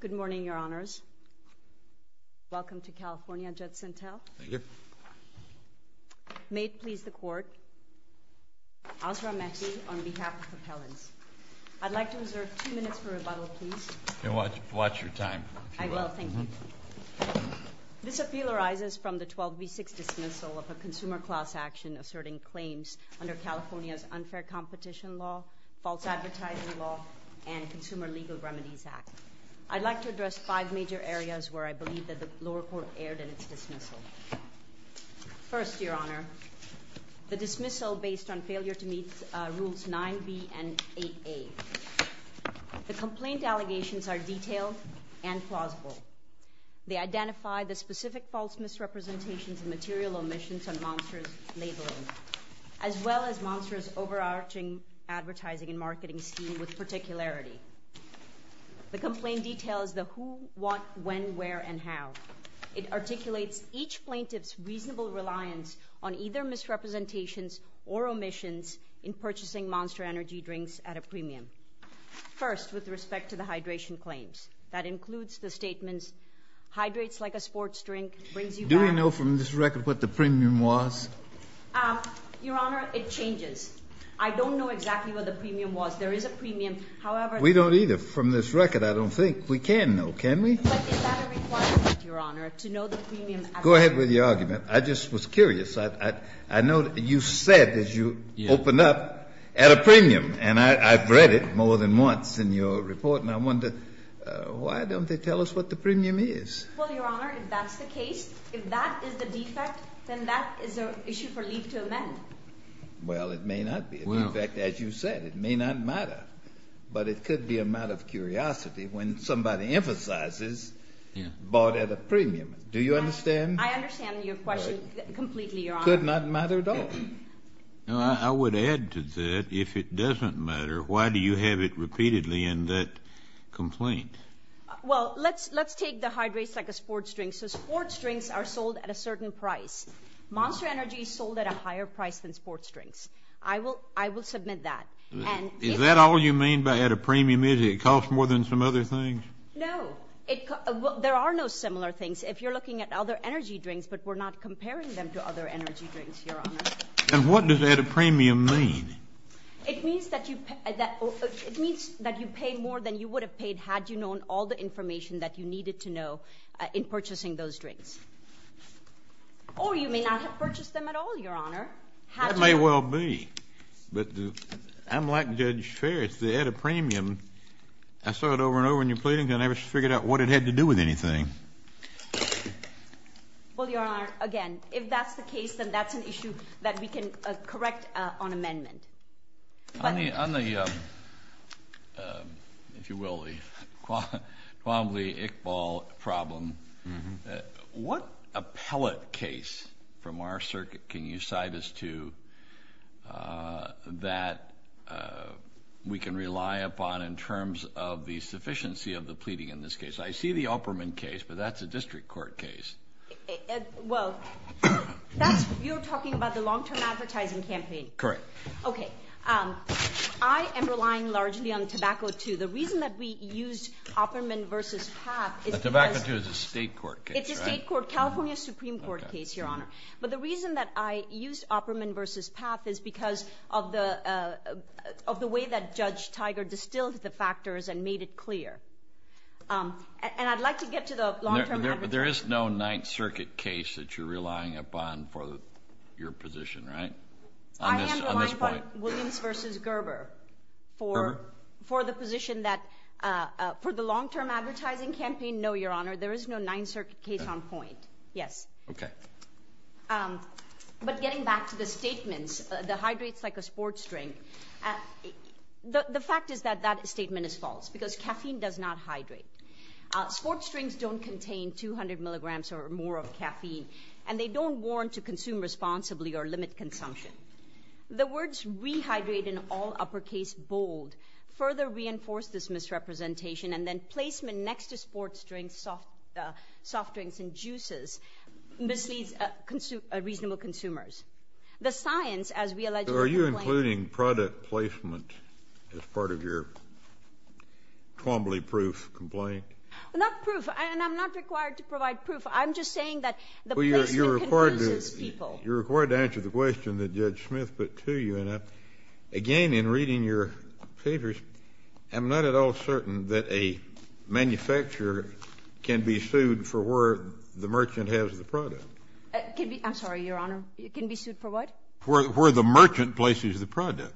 Good morning, Your Honors. Welcome to California, Judge Sentelle. Thank you. May it please the Court, Osram Mehdi, on behalf of Appellants. I'd like to reserve two minutes for rebuttal, please. Watch your time. I will, thank you. This appeal arises from the 12 v. 6 dismissal of a consumer class action asserting claims under California's unfair competition law, false advertising law, and Consumer Legal Remedies Act. I'd like to address five major areas where I believe that the lower court erred in its dismissal. First, Your Honor, the dismissal based on failure to meet Rules 9b and 8a. The complaint allegations are detailed and plausible. They identify the specific false misrepresentations and material omissions on Monster's labeling, as well as Monster's overarching advertising and marketing scheme with particularity. The complaint details the who, what, when, where, and how. It articulates each plaintiff's reasonable reliance on either misrepresentations or omissions in purchasing Monster Energy drinks at a premium. First, with respect to the hydration claims, that includes the statements, hydrates like a sports drink, brings you back. Do we know from this record what the premium was? Your Honor, it changes. I don't know exactly what the premium was. There is a premium, however. We don't either. From this record, I don't think we can know, can we? But is that a requirement, Your Honor, to know the premium? Go ahead with your argument. I just was curious. I know you said, as you opened up, at a premium. And I've read it more than once in your report. And I wonder, why don't they tell us what the premium is? Well, Your Honor, if that's the case, if that is the defect, then that is an issue for leave to amend. Well, it may not be a defect, as you said. It may not matter. But it could be a matter of curiosity when somebody emphasizes bought at a premium. Do you understand? I understand your question completely, Your Honor. It could not matter at all. I would add to that, if it doesn't matter, why do you have it repeatedly in that complaint? Well, let's take the hydrates like a sports drink. So sports drinks are sold at a certain price. Monster Energy is sold at a higher price than sports drinks. I will submit that. Is that all you mean by at a premium? Is it cost more than some other things? No. There are no similar things. If you're looking at other energy drinks, but we're not comparing them to other energy drinks, Your Honor. And what does at a premium mean? It means that you pay more than you would have paid had you known all the information that you needed to know in purchasing those drinks. Or you may not have purchased them at all, Your Honor. That may well be. But I'm like Judge Ferris. The at a premium, I saw it over and over in the complaint, and I never figured out what it had to do with anything. Well, Your Honor, again, if that's the case, then that's an issue that we can correct on amendment. On the, if you will, the Kvamli-Iqbal problem, what appellate case from our circuit can you guide us to that we can rely upon in terms of the sufficiency of the pleading in this case? I see the Opperman case, but that's a district court case. Well, that's, you're talking about the long-term advertising campaign? Correct. Okay. I am relying largely on tobacco too. The reason that we used Opperman versus Papp is because... The tobacco too is a state court case, right? It's a state court, California Supreme Court case, Your Honor. But the reason that I used Opperman versus Papp is because of the way that Judge Tiger distilled the factors and made it clear. And I'd like to get to the long-term advertising. There is no Ninth Circuit case that you're relying upon for your position, right? On this point? I am relying on Williams versus Gerber for the position that, for the long-term advertising campaign, no, Your Honor. There is no Ninth Circuit case on point. Yes. Okay. But getting back to the statements, the hydrates like a sports drink, the fact is that that statement is false because caffeine does not hydrate. Sports drinks don't contain 200 milligrams or more of caffeine and they don't warrant to consume responsibly or limit consumption. The words rehydrate in all uppercase bold further reinforce this misrepresentation and then placement next to sports drinks, soft drinks, and juices misleads reasonable consumers. The science, as we allegedly complain— So are you including product placement as part of your Twombly proof complaint? Not proof. And I'm not required to provide proof. I'm just saying that the placement— Well, you're required to answer the question that Judge Smith put to you. And again, in reading your papers, I'm not at all certain that a manufacturer can be sued for where the merchant has the product. I'm sorry, Your Honor. Can be sued for what? Where the merchant places the product.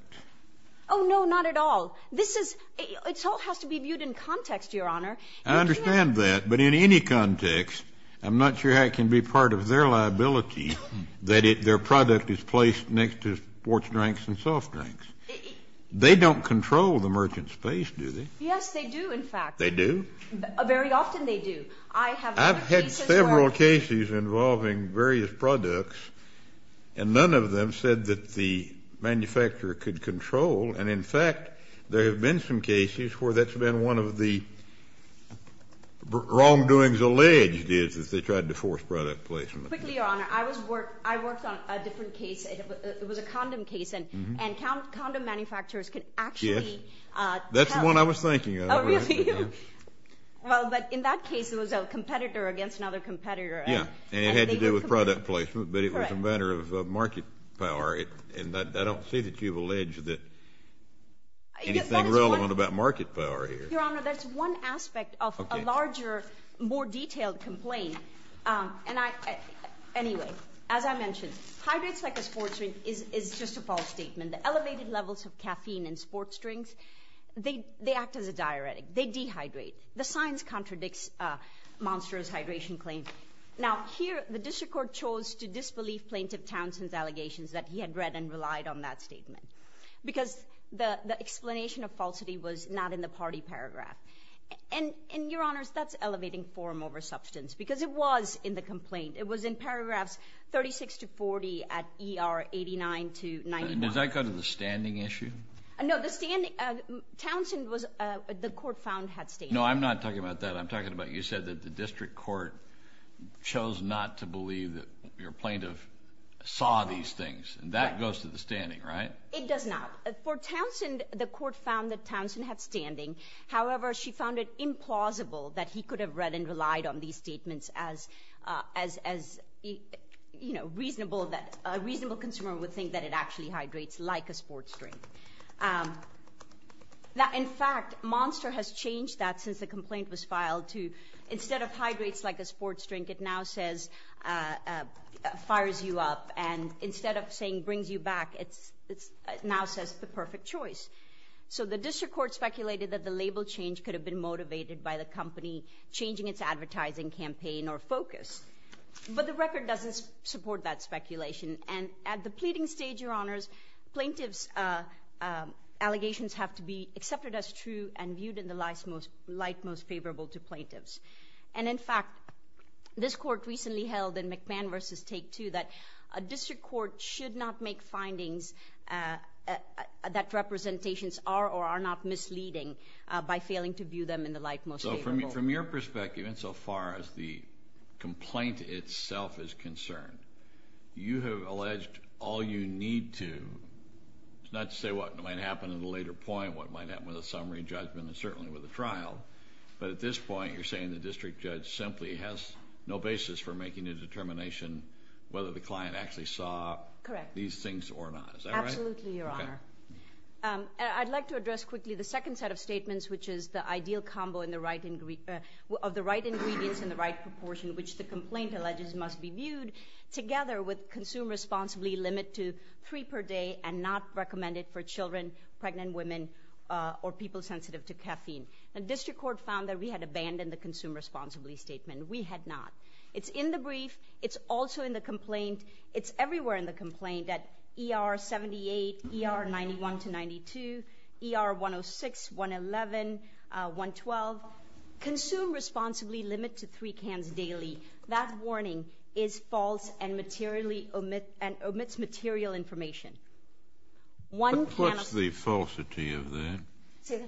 Oh, no, not at all. This is—it all has to be viewed in context, Your Honor. I understand that. But in any context, I'm not sure how it can be part of their liability that their product is placed next to sports drinks and soft drinks. They don't control the merchant's space, do they? Yes, they do, in fact. They do? Very often they do. I have other cases where— I've had several cases involving various products, and none of them said that the manufacturer could control. And in fact, there have been some cases where that's been one of the wrongdoings alleged is that they tried to force product placement. Quickly, Your Honor. I was—I worked on a different case. It was a condom case. And condom manufacturers can actually tell— Yes. That's the one I was thinking of. Oh, really? Well, but in that case, it was a competitor against another competitor. Yeah. And it had to do with product placement, but it was a matter of market power. And I don't see that you've alleged that anything relevant about market power here. Your Honor, that's one aspect of a larger, more detailed complaint. Anyway, as I mentioned, hydrates like a sports drink is just a false statement. The elevated levels of caffeine in sports drinks, they act as a diuretic. They dehydrate. The science contradicts Monster's hydration claim. Now, here, the district court chose to disbelieve Plaintiff Townsend's allegations that he had read and relied on that statement because the explanation of falsity was not in the party paragraph. And, Your Honors, that's elevating form over substance because it was in the complaint. It was in paragraphs 36 to 40 at ER 89 to 91. Does that go to the standing issue? No, the standing—Townsend was—the court found had standing. No, I'm not talking about that. I'm talking about you said that the district court chose not to believe that your plaintiff saw these things. That goes to the standing, right? It does not. For Townsend, the court found that Townsend had standing. However, she found it implausible that he could have read and as, you know, a reasonable consumer would think that it actually hydrates like a sports drink. Now, in fact, Monster has changed that since the complaint was filed to instead of hydrates like a sports drink, it now says fires you up. And instead of saying brings you back, it now says it's the perfect choice. So the district court speculated that the label change could have been motivated by the company changing its advertising campaign or focus. But the record doesn't support that speculation. And at the pleading stage, Your Honors, plaintiffs' allegations have to be accepted as true and viewed in the light most favorable to plaintiffs. And in fact, this court recently held in McMahon v. Take Two that a district court should not make findings that representations are or are not misleading by failing to view them in the light most favorable. So from your perspective, insofar as the complaint itself is concerned, you have alleged all you need to, not to say what might happen at a later point, what might happen with a summary judgment and certainly with a trial. But at this point, you're saying the district judge simply has no basis for making a determination whether the client actually saw these things or not. Is that right? Absolutely, Your Honor. I'd like to address quickly the second set of statements, which is the ideal combo of the right ingredients in the right proportion, which the complaint alleges must be viewed together with consume responsibly limit to three per day and not recommended for children, pregnant women, or people sensitive to caffeine. The district court found that we had abandoned the consume responsibly statement. We had not. It's in the brief. It's also in the complaint. It's everywhere in the complaint at ER 78, ER 91 to 92, ER 106, 111, 112. Consume responsibly limit to three cans daily. That warning is false and materially omits material information. What's the falsity of that?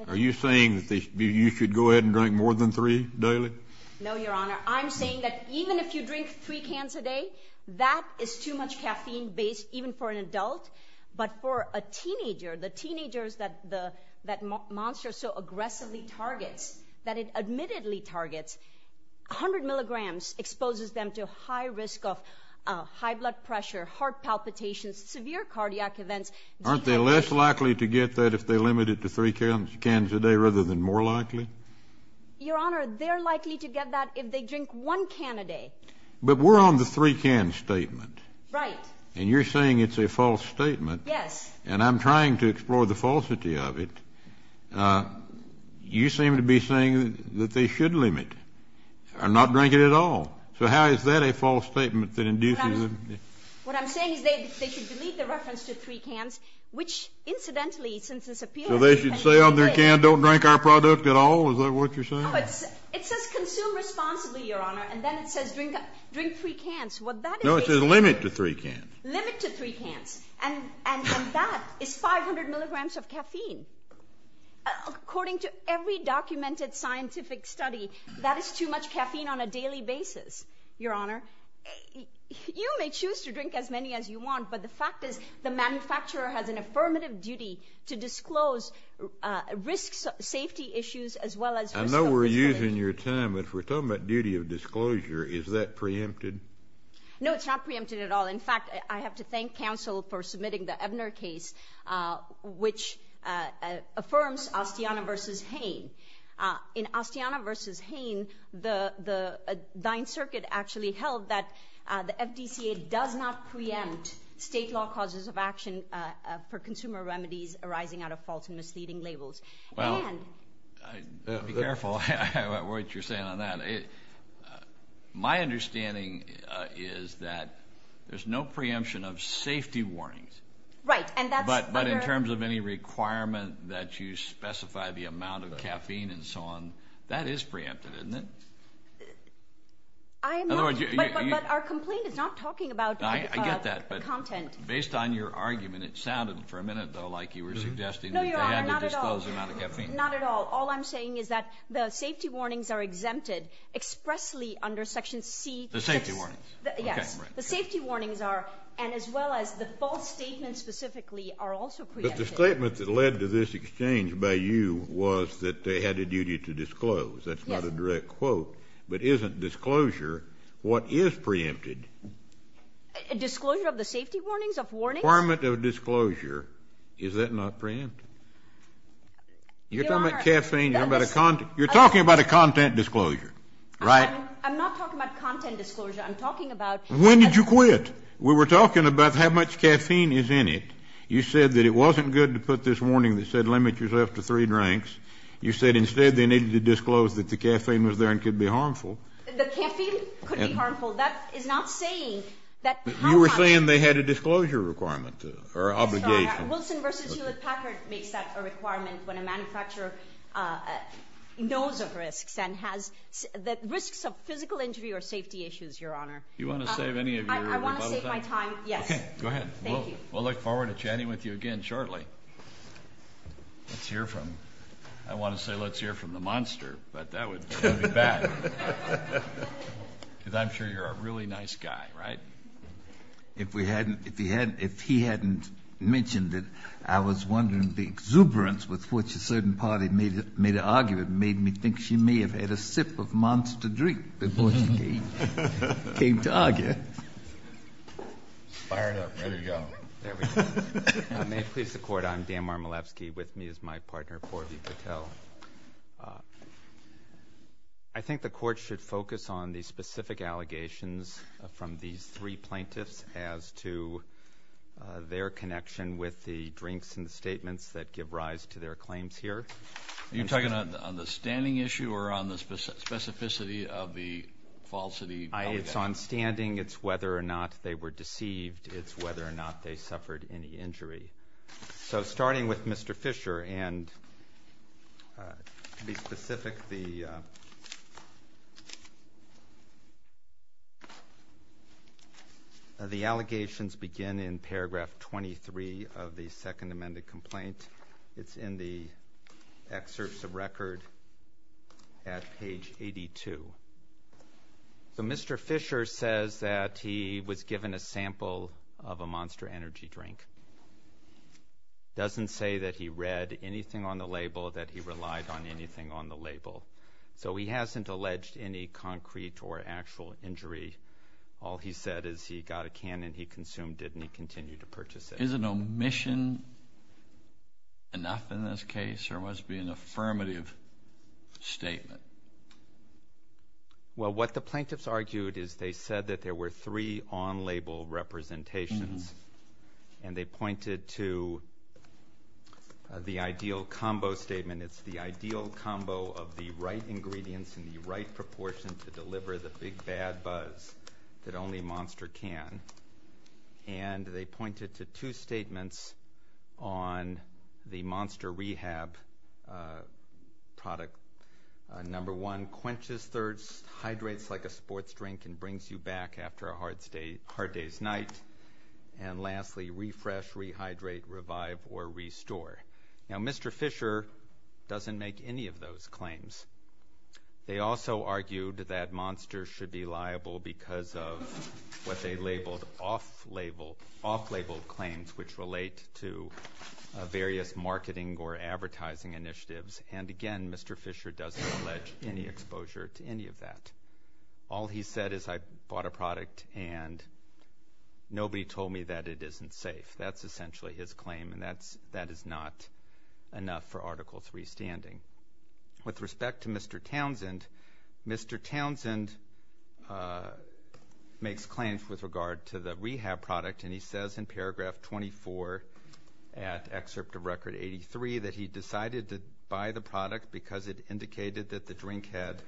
Are you saying that you should go ahead and drink more than three daily? No, Your Honor. I'm saying that even if you drink three cans a day, that is too much caffeine based even for an adult. But for a teenager, the teenagers that that monster so aggressively targets, that it admittedly targets, 100 milligrams exposes them to high risk of high blood pressure, heart palpitations, severe cardiac events. Aren't they less likely to get that if they limit it to three cans a day rather than more likely? Your Honor, they're likely to get that if they drink one can a day. But we're on the three can statement. Right. And you're saying it's a false statement. Yes. And I'm trying to explore the falsity of it. You seem to be saying that they should limit or not drink it at all. So how is that a false statement that induces them? What I'm saying is they should delete the reference to three cans, which incidentally, since this appeals to three cans a day. So they should say on their can, don't drink our product at all? Is that what you're saying? No, it says consume responsibly, Your Honor. And then it says drink three cans. No, it says limit to three cans. Limit to three cans. And that is 500 milligrams of caffeine. According to every documented scientific study, that is too much caffeine on a daily basis, Your Honor. You may choose to drink as many as you want, but the fact is the manufacturer has an affirmative duty I know we're using your time, but if we're talking about duty of disclosure, is that preempted? No, it's not preempted at all. In fact, I have to thank counsel for submitting the Ebner case, which affirms Astiana v. Hain. In Astiana v. Hain, the Ninth Circuit actually held that the FDCA does not preempt state law causes of action for consumer remedies arising out of false and misleading labels. Well, be careful what you're saying on that. My understanding is that there's no preemption of safety warnings, but in terms of any requirement that you specify the amount of caffeine and so on, that is preempted, isn't it? But our complaint is not talking about content. I get that, but based on your argument, it sounded for a minute, though, like you were Not at all. All I'm saying is that the safety warnings are exempted expressly under Section C. The safety warnings? Yes, the safety warnings are, and as well as the false statements specifically, are also preempted. But the statement that led to this exchange by you was that they had a duty to disclose. That's not a direct quote, but isn't disclosure what is preempted? Disclosure of the safety warnings, of warnings? The requirement of disclosure, is that not preempted? You're talking about caffeine, you're talking about a content disclosure, right? I'm not talking about content disclosure, I'm talking about When did you quit? We were talking about how much caffeine is in it. You said that it wasn't good to put this warning that said limit yourself to three drinks. You said instead they needed to disclose that the caffeine was there and could be harmful. The caffeine could be harmful. That is not saying that You were saying they had a disclosure requirement, or obligation. Wilson v. Hewlett-Packard makes that a requirement when a manufacturer knows of risks and has risks of physical injury or safety issues, Your Honor. Do you want to save any of your rebuttal time? I want to save my time, yes. Go ahead. We'll look forward to chatting with you again shortly. Let's hear from, I want to say let's hear from the monster, but that would be bad. Because I'm sure you're a really nice guy, right? If we hadn't, if he hadn't, if he hadn't mentioned it, I was wondering the exuberance with which a certain party made an argument made me think she may have had a sip of monster drink before she came to argue. Fired up, ready to go. There we go. May it please the Court, I'm Dan Marmolevsky. With me is my partner, Porvi Patel. I think the Court should focus on the specific allegations from these three plaintiffs as to their connection with the drinks and the statements that give rise to their claims here. Are you talking on the standing issue or on the specificity of the falsity allegations? It's on standing. It's whether or not they were deceived. It's whether or not they suffered any injury. So starting with Mr. Fisher and to be specific, the allegations begin in paragraph 23 of the second amended complaint. It's in the excerpts of record at page 82. So Mr. Fisher says that he was given a sample of a monster energy drink. Doesn't say that he read anything on the label, that he relied on anything on the label. So he hasn't alleged any concrete or actual injury. All he said is he got a can and he consumed it and he continued to purchase it. Is an omission enough in this case or must it be an affirmative statement? Well, what the plaintiffs argued is they said that there were three on-label representations and they pointed to the ideal combo statement. It's the ideal combo of the right ingredients and the right proportion to deliver the big bad buzz that only monster can. And they pointed to two statements on the monster rehab product. Number one, quenches thirst, hydrates like a sports drink and brings you back after a hard day's night. And lastly, refresh, rehydrate, revive or restore. Now Mr. Fisher doesn't make any of those claims. They also argued that monster should be liable because of what they labeled off-label, off-label claims which relate to various marketing or advertising initiatives. And again, Mr. Fisher doesn't allege any exposure to any of that. All he said is I bought a product and nobody told me that it isn't safe. That's essentially his claim and that is not enough for Article III standing. With respect to Mr. Townsend, Mr. Townsend makes claims with regard to the rehab product and he says in paragraph 24 at excerpt of record 83 that he decided to buy the product because it indicated that the drink had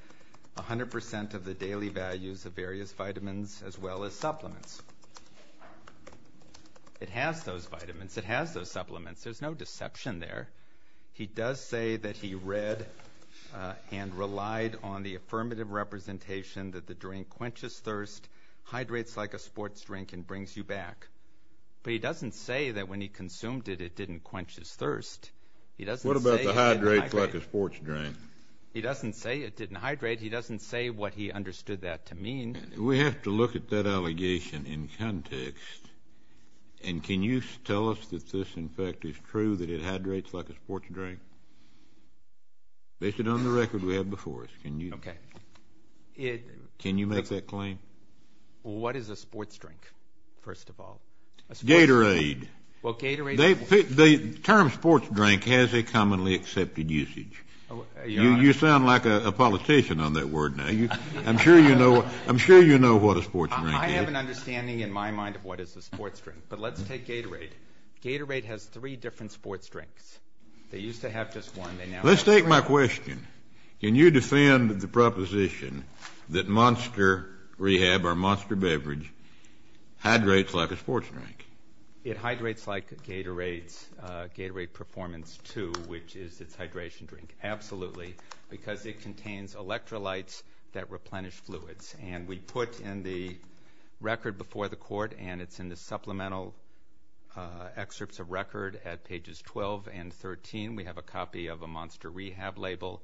100% of the daily values of various vitamins as well as supplements. It has those vitamins. It has those supplements. There's no deception there. He does say that he read and relied on the affirmative representation that the drink quenches thirst, hydrates like a sports drink and brings you back. But he doesn't say that when he consumed it, it didn't quench his thirst. He doesn't say it didn't hydrate. It didn't hydrate like a sports drink. He doesn't say it didn't hydrate. He doesn't say what he understood that to mean. We have to look at that allegation in context. And can you tell us that this, in fact, is true, that it hydrates like a sports drink? Based on the record we have before us, can you make that claim? What is a sports drink, first of all? Gatorade. Well, Gatorade. The term sports drink has a commonly accepted usage. You sound like a politician on that word now. I'm sure you know what a sports drink is. I have an understanding in my mind of what is a sports drink. But let's take Gatorade. Gatorade has three different sports drinks. They used to have just one. Let's take my question. Can you defend the proposition that Monster Rehab or Monster Beverage hydrates like a sports drink? It hydrates like Gatorade's Gatorade Performance 2, which is its hydration drink. Absolutely. Because it contains electrolytes that replenish fluids. And we put in the record before the court, and it's in the supplemental excerpts of record at pages 12 and 13. We have a copy of a Monster Rehab label.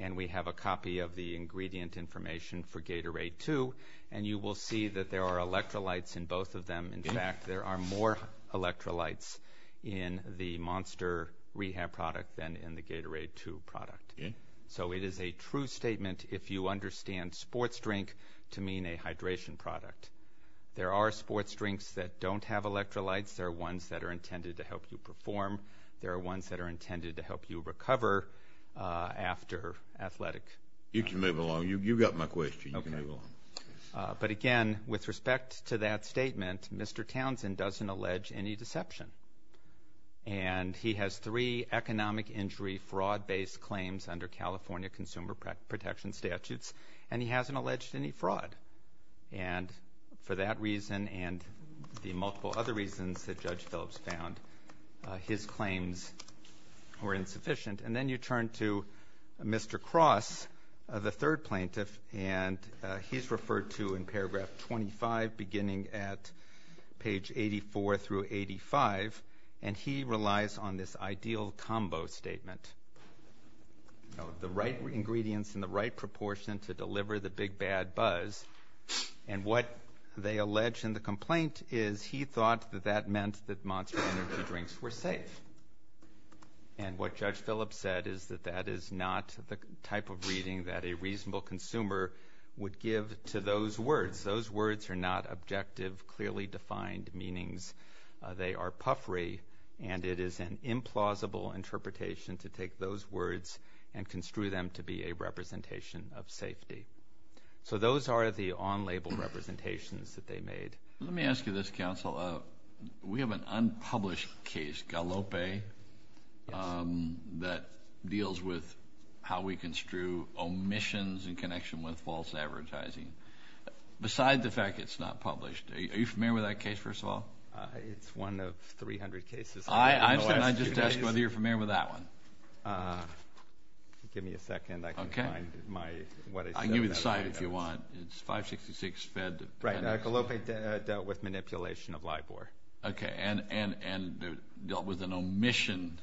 And we have a copy of the ingredient information for Gatorade 2. And you will see that there are electrolytes in both of them. In fact, there are more electrolytes in the Monster Rehab product than in the Gatorade 2 product. So it is a true statement if you understand sports drink to mean a hydration product. There are sports drinks that don't have electrolytes. There are ones that are intended to help you perform. There are ones that are intended to help you recover after athletic. You can move along. You've got my question. You can move along. But again, with respect to that statement, Mr. Townsend doesn't allege any deception. And he has three economic injury fraud-based claims under California Consumer Protection Statutes. And he hasn't alleged any fraud. And for that reason and the multiple other reasons that Judge Phillips found, his claims were insufficient. And then you turn to Mr. Cross, the third plaintiff. And he's referred to in paragraph 25 beginning at page 84 through 85. And he relies on this ideal combo statement. The right ingredients in the right proportion to deliver the big bad buzz. And what they allege in the complaint is he thought that that meant that Monster Energy drinks were safe. And what Judge Phillips said is that that is not the type of reading that a reasonable consumer would give to those words. Those words are not objective, clearly defined meanings. They are puffery. And it is an implausible interpretation to take those words and construe them to be a representation of safety. So those are the on-label representations that they made. Let me ask you this, counsel. We have an unpublished case, Galope, that deals with how we construe omissions in connection with false advertising. Besides the fact it's not published, are you familiar with that case, first of all? It's one of 300 cases. I'm just asking whether you're familiar with that one. Give me a second. I can find what I said. I can give you the site if you want. It's 566 Fed. Galope dealt with manipulation of Libor. And dealt with an omission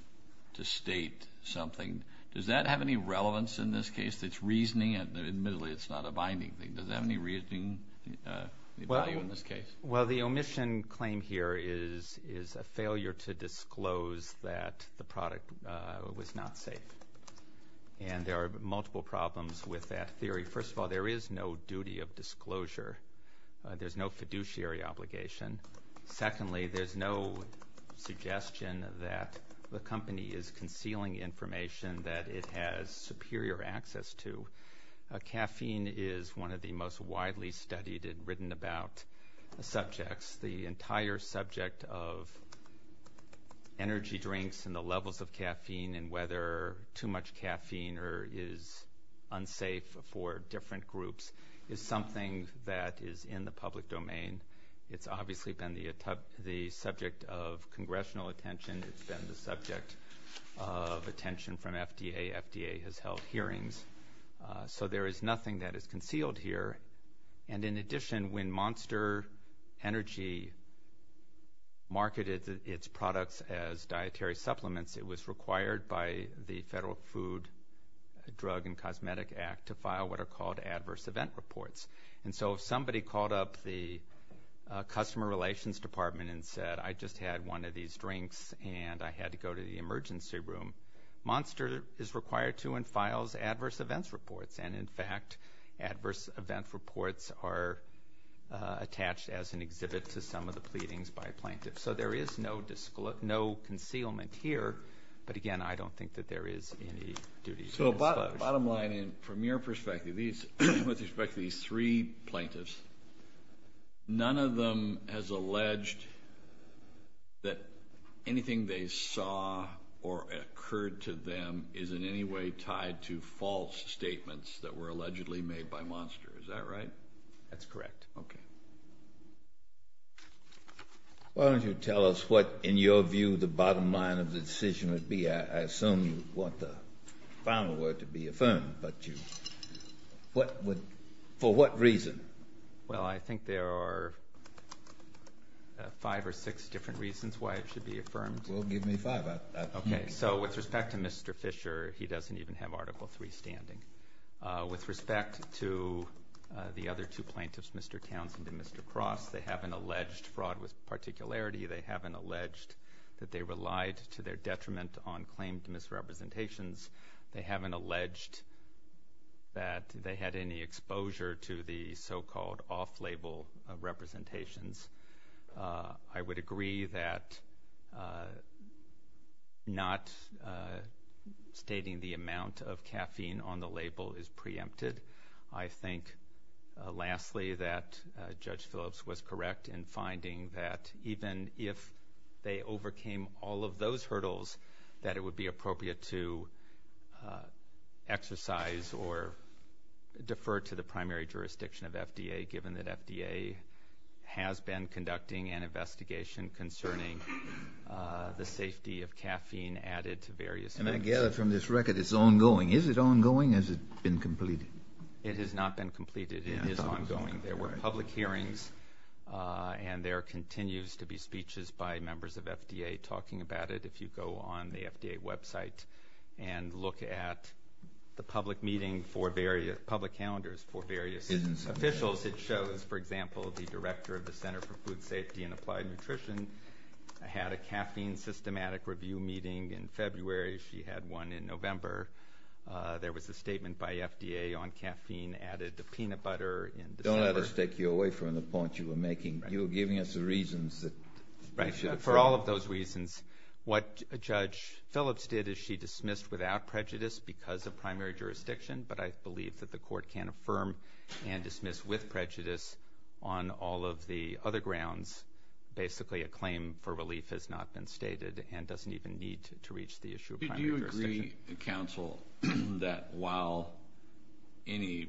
to state something. Does that have any relevance in this case? It's reasoning. Admittedly, it's not a binding thing. Does it have any value in this case? Well, the omission claim here is a failure to disclose that the product was not safe. And there are multiple problems with that theory. First of all, there is no duty of disclosure. There's no fiduciary obligation. Secondly, there's no suggestion that the company is concealing information that it has superior access to. Caffeine is one of the most widely studied and written about subjects. The entire subject of energy drinks and the levels of caffeine and whether too much caffeine is unsafe for different groups is something that is in the public domain. It's obviously been the subject of congressional attention. It's been the subject of attention from FDA. FDA has held hearings. So there is nothing that is concealed here. And in addition, when Monster Energy marketed its products as dietary supplements, it was required by the Federal Food, Drug, and Cosmetic Act to file what are called adverse event reports. And so if somebody called up the customer relations department and said, I just had one of these drinks and I had to go to the emergency room, Monster is required to and files adverse events reports. And in fact, adverse event reports are attached as an exhibit to some of the pleadings by plaintiffs. So there is no concealment here. But again, I don't think that there is any duty of disclosure. So bottom line, from your perspective, with respect to these three plaintiffs, none of them has alleged that anything they saw or occurred to them is in any way tied to false statements that were allegedly made by Monster. Is that right? That's correct. Okay. Why don't you tell us what, in your view, the bottom line of the decision would be. I assume you want the final word to be affirmed. For what reason? Well, I think there are five or six different reasons why it should be affirmed. Well, give me five. Okay. So with respect to Mr. Fisher, he doesn't even have Article III standing. With respect to the other two plaintiffs, Mr. Townsend and Mr. Cross, they have an alleged fraud with particularity. They have an alleged that they relied to their detriment on claimed misrepresentations. They have an alleged that they had any exposure to the so-called off-label representations. I would agree that not stating the amount of caffeine on the label is preempted. I think, lastly, that Judge Phillips was correct in finding that even if they overcame all of those hurdles, that it would be appropriate to exercise or defer to the primary jurisdiction of FDA, given that FDA has been conducting an investigation concerning the safety of caffeine added to various... And I gather from this record it's ongoing. Is it ongoing? Has it been completed? It has not been completed. It is ongoing. There were public hearings, and there continues to be speeches by members of FDA talking about it. If you go on the FDA website and look at the public meeting for various... public calendars for various officials, it shows, for example, the director of the Center for Food Safety and Applied Nutrition had a caffeine systematic review meeting in February. She had one in November. There was a statement by FDA on caffeine added to peanut butter in December. Don't let us take you away from the point you were making. You were giving us the reasons that... Right. For all of those reasons, what Judge Phillips did is she dismissed without prejudice because of primary jurisdiction, but I believe that the court can affirm and dismiss with prejudice on all of the other grounds. Basically, a claim for relief has not been stated and doesn't even need to reach the issue of primary jurisdiction. Do you agree, counsel, that while any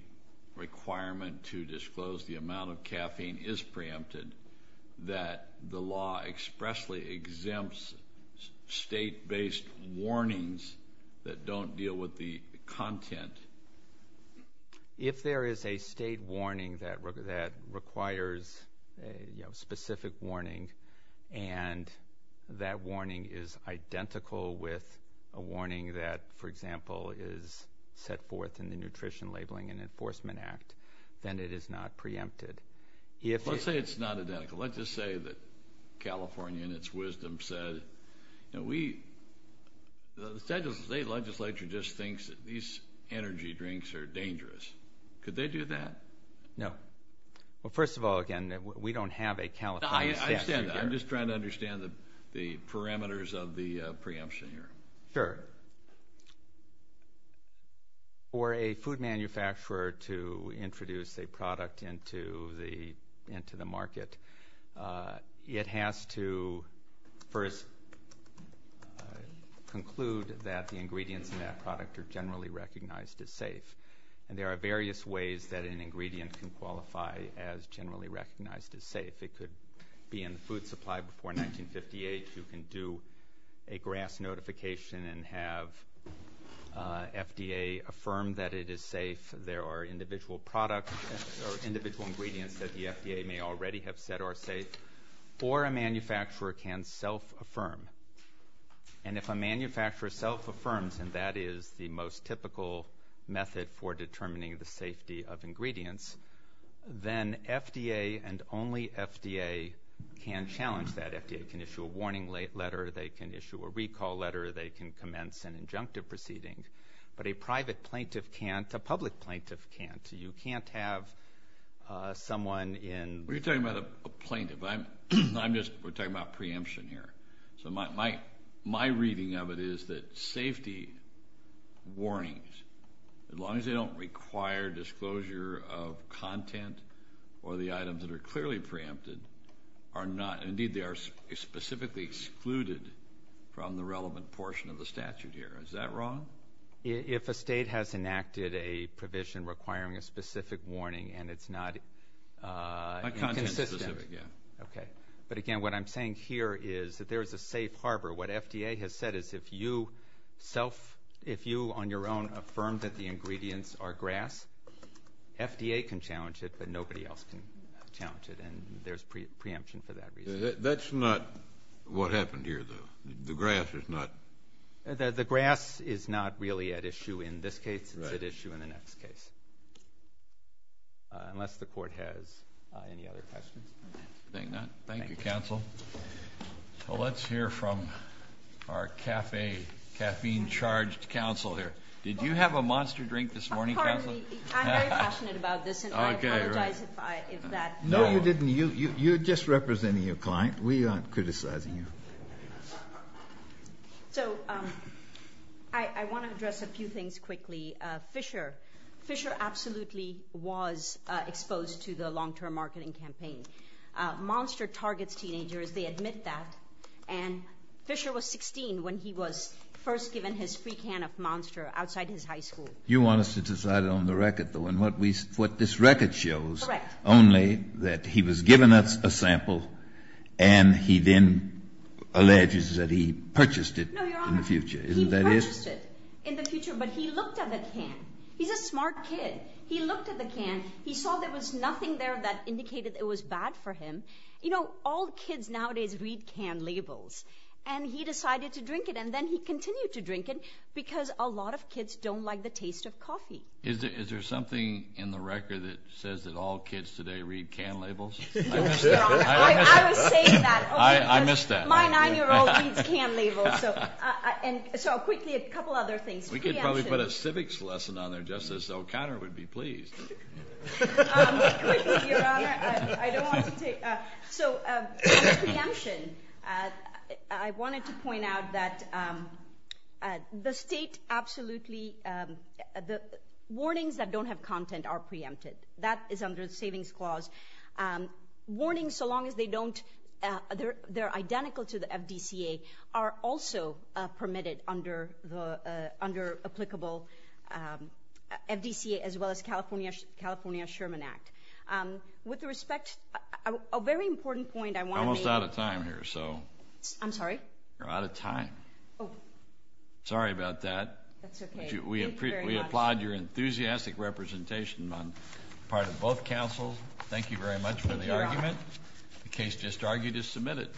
requirement to disclose the amount of caffeine is preempted, that the law expressly exempts state-based warnings that don't deal with the content? If there is a state warning that requires a specific warning and that warning is identical with a warning that, for example, is set forth in the Nutrition Labeling and Enforcement Act, then it is not preempted. Let's say it's not identical. Let's just say that California, in its wisdom, said, you know, the state legislature just thinks that these energy drinks are dangerous. Could they do that? No. Well, first of all, again, we don't have a California statute here. I understand. I'm just trying to understand the parameters of the preemption here. Sure. For a food manufacturer to introduce a product into the market, it has to first conclude that the ingredients in that product are generally recognized as safe. And there are various ways that an ingredient can qualify as generally recognized as safe. It could be in the food supply before 1958. You can do a GRAS notification and have the ingredient and have FDA affirm that it is safe. There are individual products or individual ingredients that the FDA may already have said are safe. Or a manufacturer can self-affirm. And if a manufacturer self-affirms, and that is the most typical method for determining the safety of ingredients, then FDA and only FDA can challenge that. FDA can issue a warning letter. They can issue a recall letter. They can commence an injunctive proceeding. But a private plaintiff can't. A public plaintiff can't. You can't have someone in... Well, you're talking about a plaintiff. We're talking about preemption here. So my reading of it is that safety warnings, as long as they don't require disclosure of content or the items that are clearly preempted, are not. Indeed, they are specifically excluded from the relevant portion of the statute here. Is that wrong? If a state has enacted a provision requiring a specific warning and it's not... A content-specific, yeah. Okay. But again, what I'm saying here is that there is a safe harbor. What FDA has said is if you, on your own, affirm that the ingredients are GRAS, FDA can challenge it, but nobody else can challenge it. And there's preemption for that reason. That's not what happened here, though. The GRAS is not... The GRAS is not really at issue in this case. It's at issue in the next case. Unless the Court has any other questions. Thank you, Counsel. Let's hear from our caffeine-charged Counsel here. Did you have a monster drink this morning, Counsel? Pardon me. I'm very passionate about this, and I apologize if that... No, you didn't. You're just representing your client. We aren't criticizing you. So, I want to address a few things quickly. Fisher. Fisher absolutely was exposed to the long-term marketing campaign. Monster targets teenagers. They admit that. And Fisher was 16 when he was first given his free can of Monster outside his high school. You want us to decide it on the record, though. And what this record shows... That he was given a sample, and he then alleges that he purchased it in the future. No, Your Honor. Isn't that it? He purchased it in the future, but he looked at the can. He's a smart kid. He looked at the can. He saw there was nothing there that indicated it was bad for him. You know, all kids nowadays read can labels. And he decided to drink it, and then he continued to drink it because a lot of kids don't like the taste of coffee. Is there something in the record that says that all kids today read can labels? I missed that. I was saying that. I missed that. My 9-year-old reads can labels. So, quickly, a couple other things. We could probably put a civics lesson on there just as O'Connor would be pleased. Quickly, Your Honor. I don't want to take... So, on preemption, I wanted to point out that the state absolutely... The warnings that don't have content are preempted. That is under the Savings Clause. Warnings, so long as they're identical to the FDCA, are also permitted under applicable FDCA as well as California Sherman Act. With respect, a very important point I want to make... We're almost out of time here. I'm sorry? We're out of time. Oh. Sorry about that. That's okay. We applaud your enthusiastic representation on the part of both counsels. Thank you very much for the argument. The case just argued is submitted.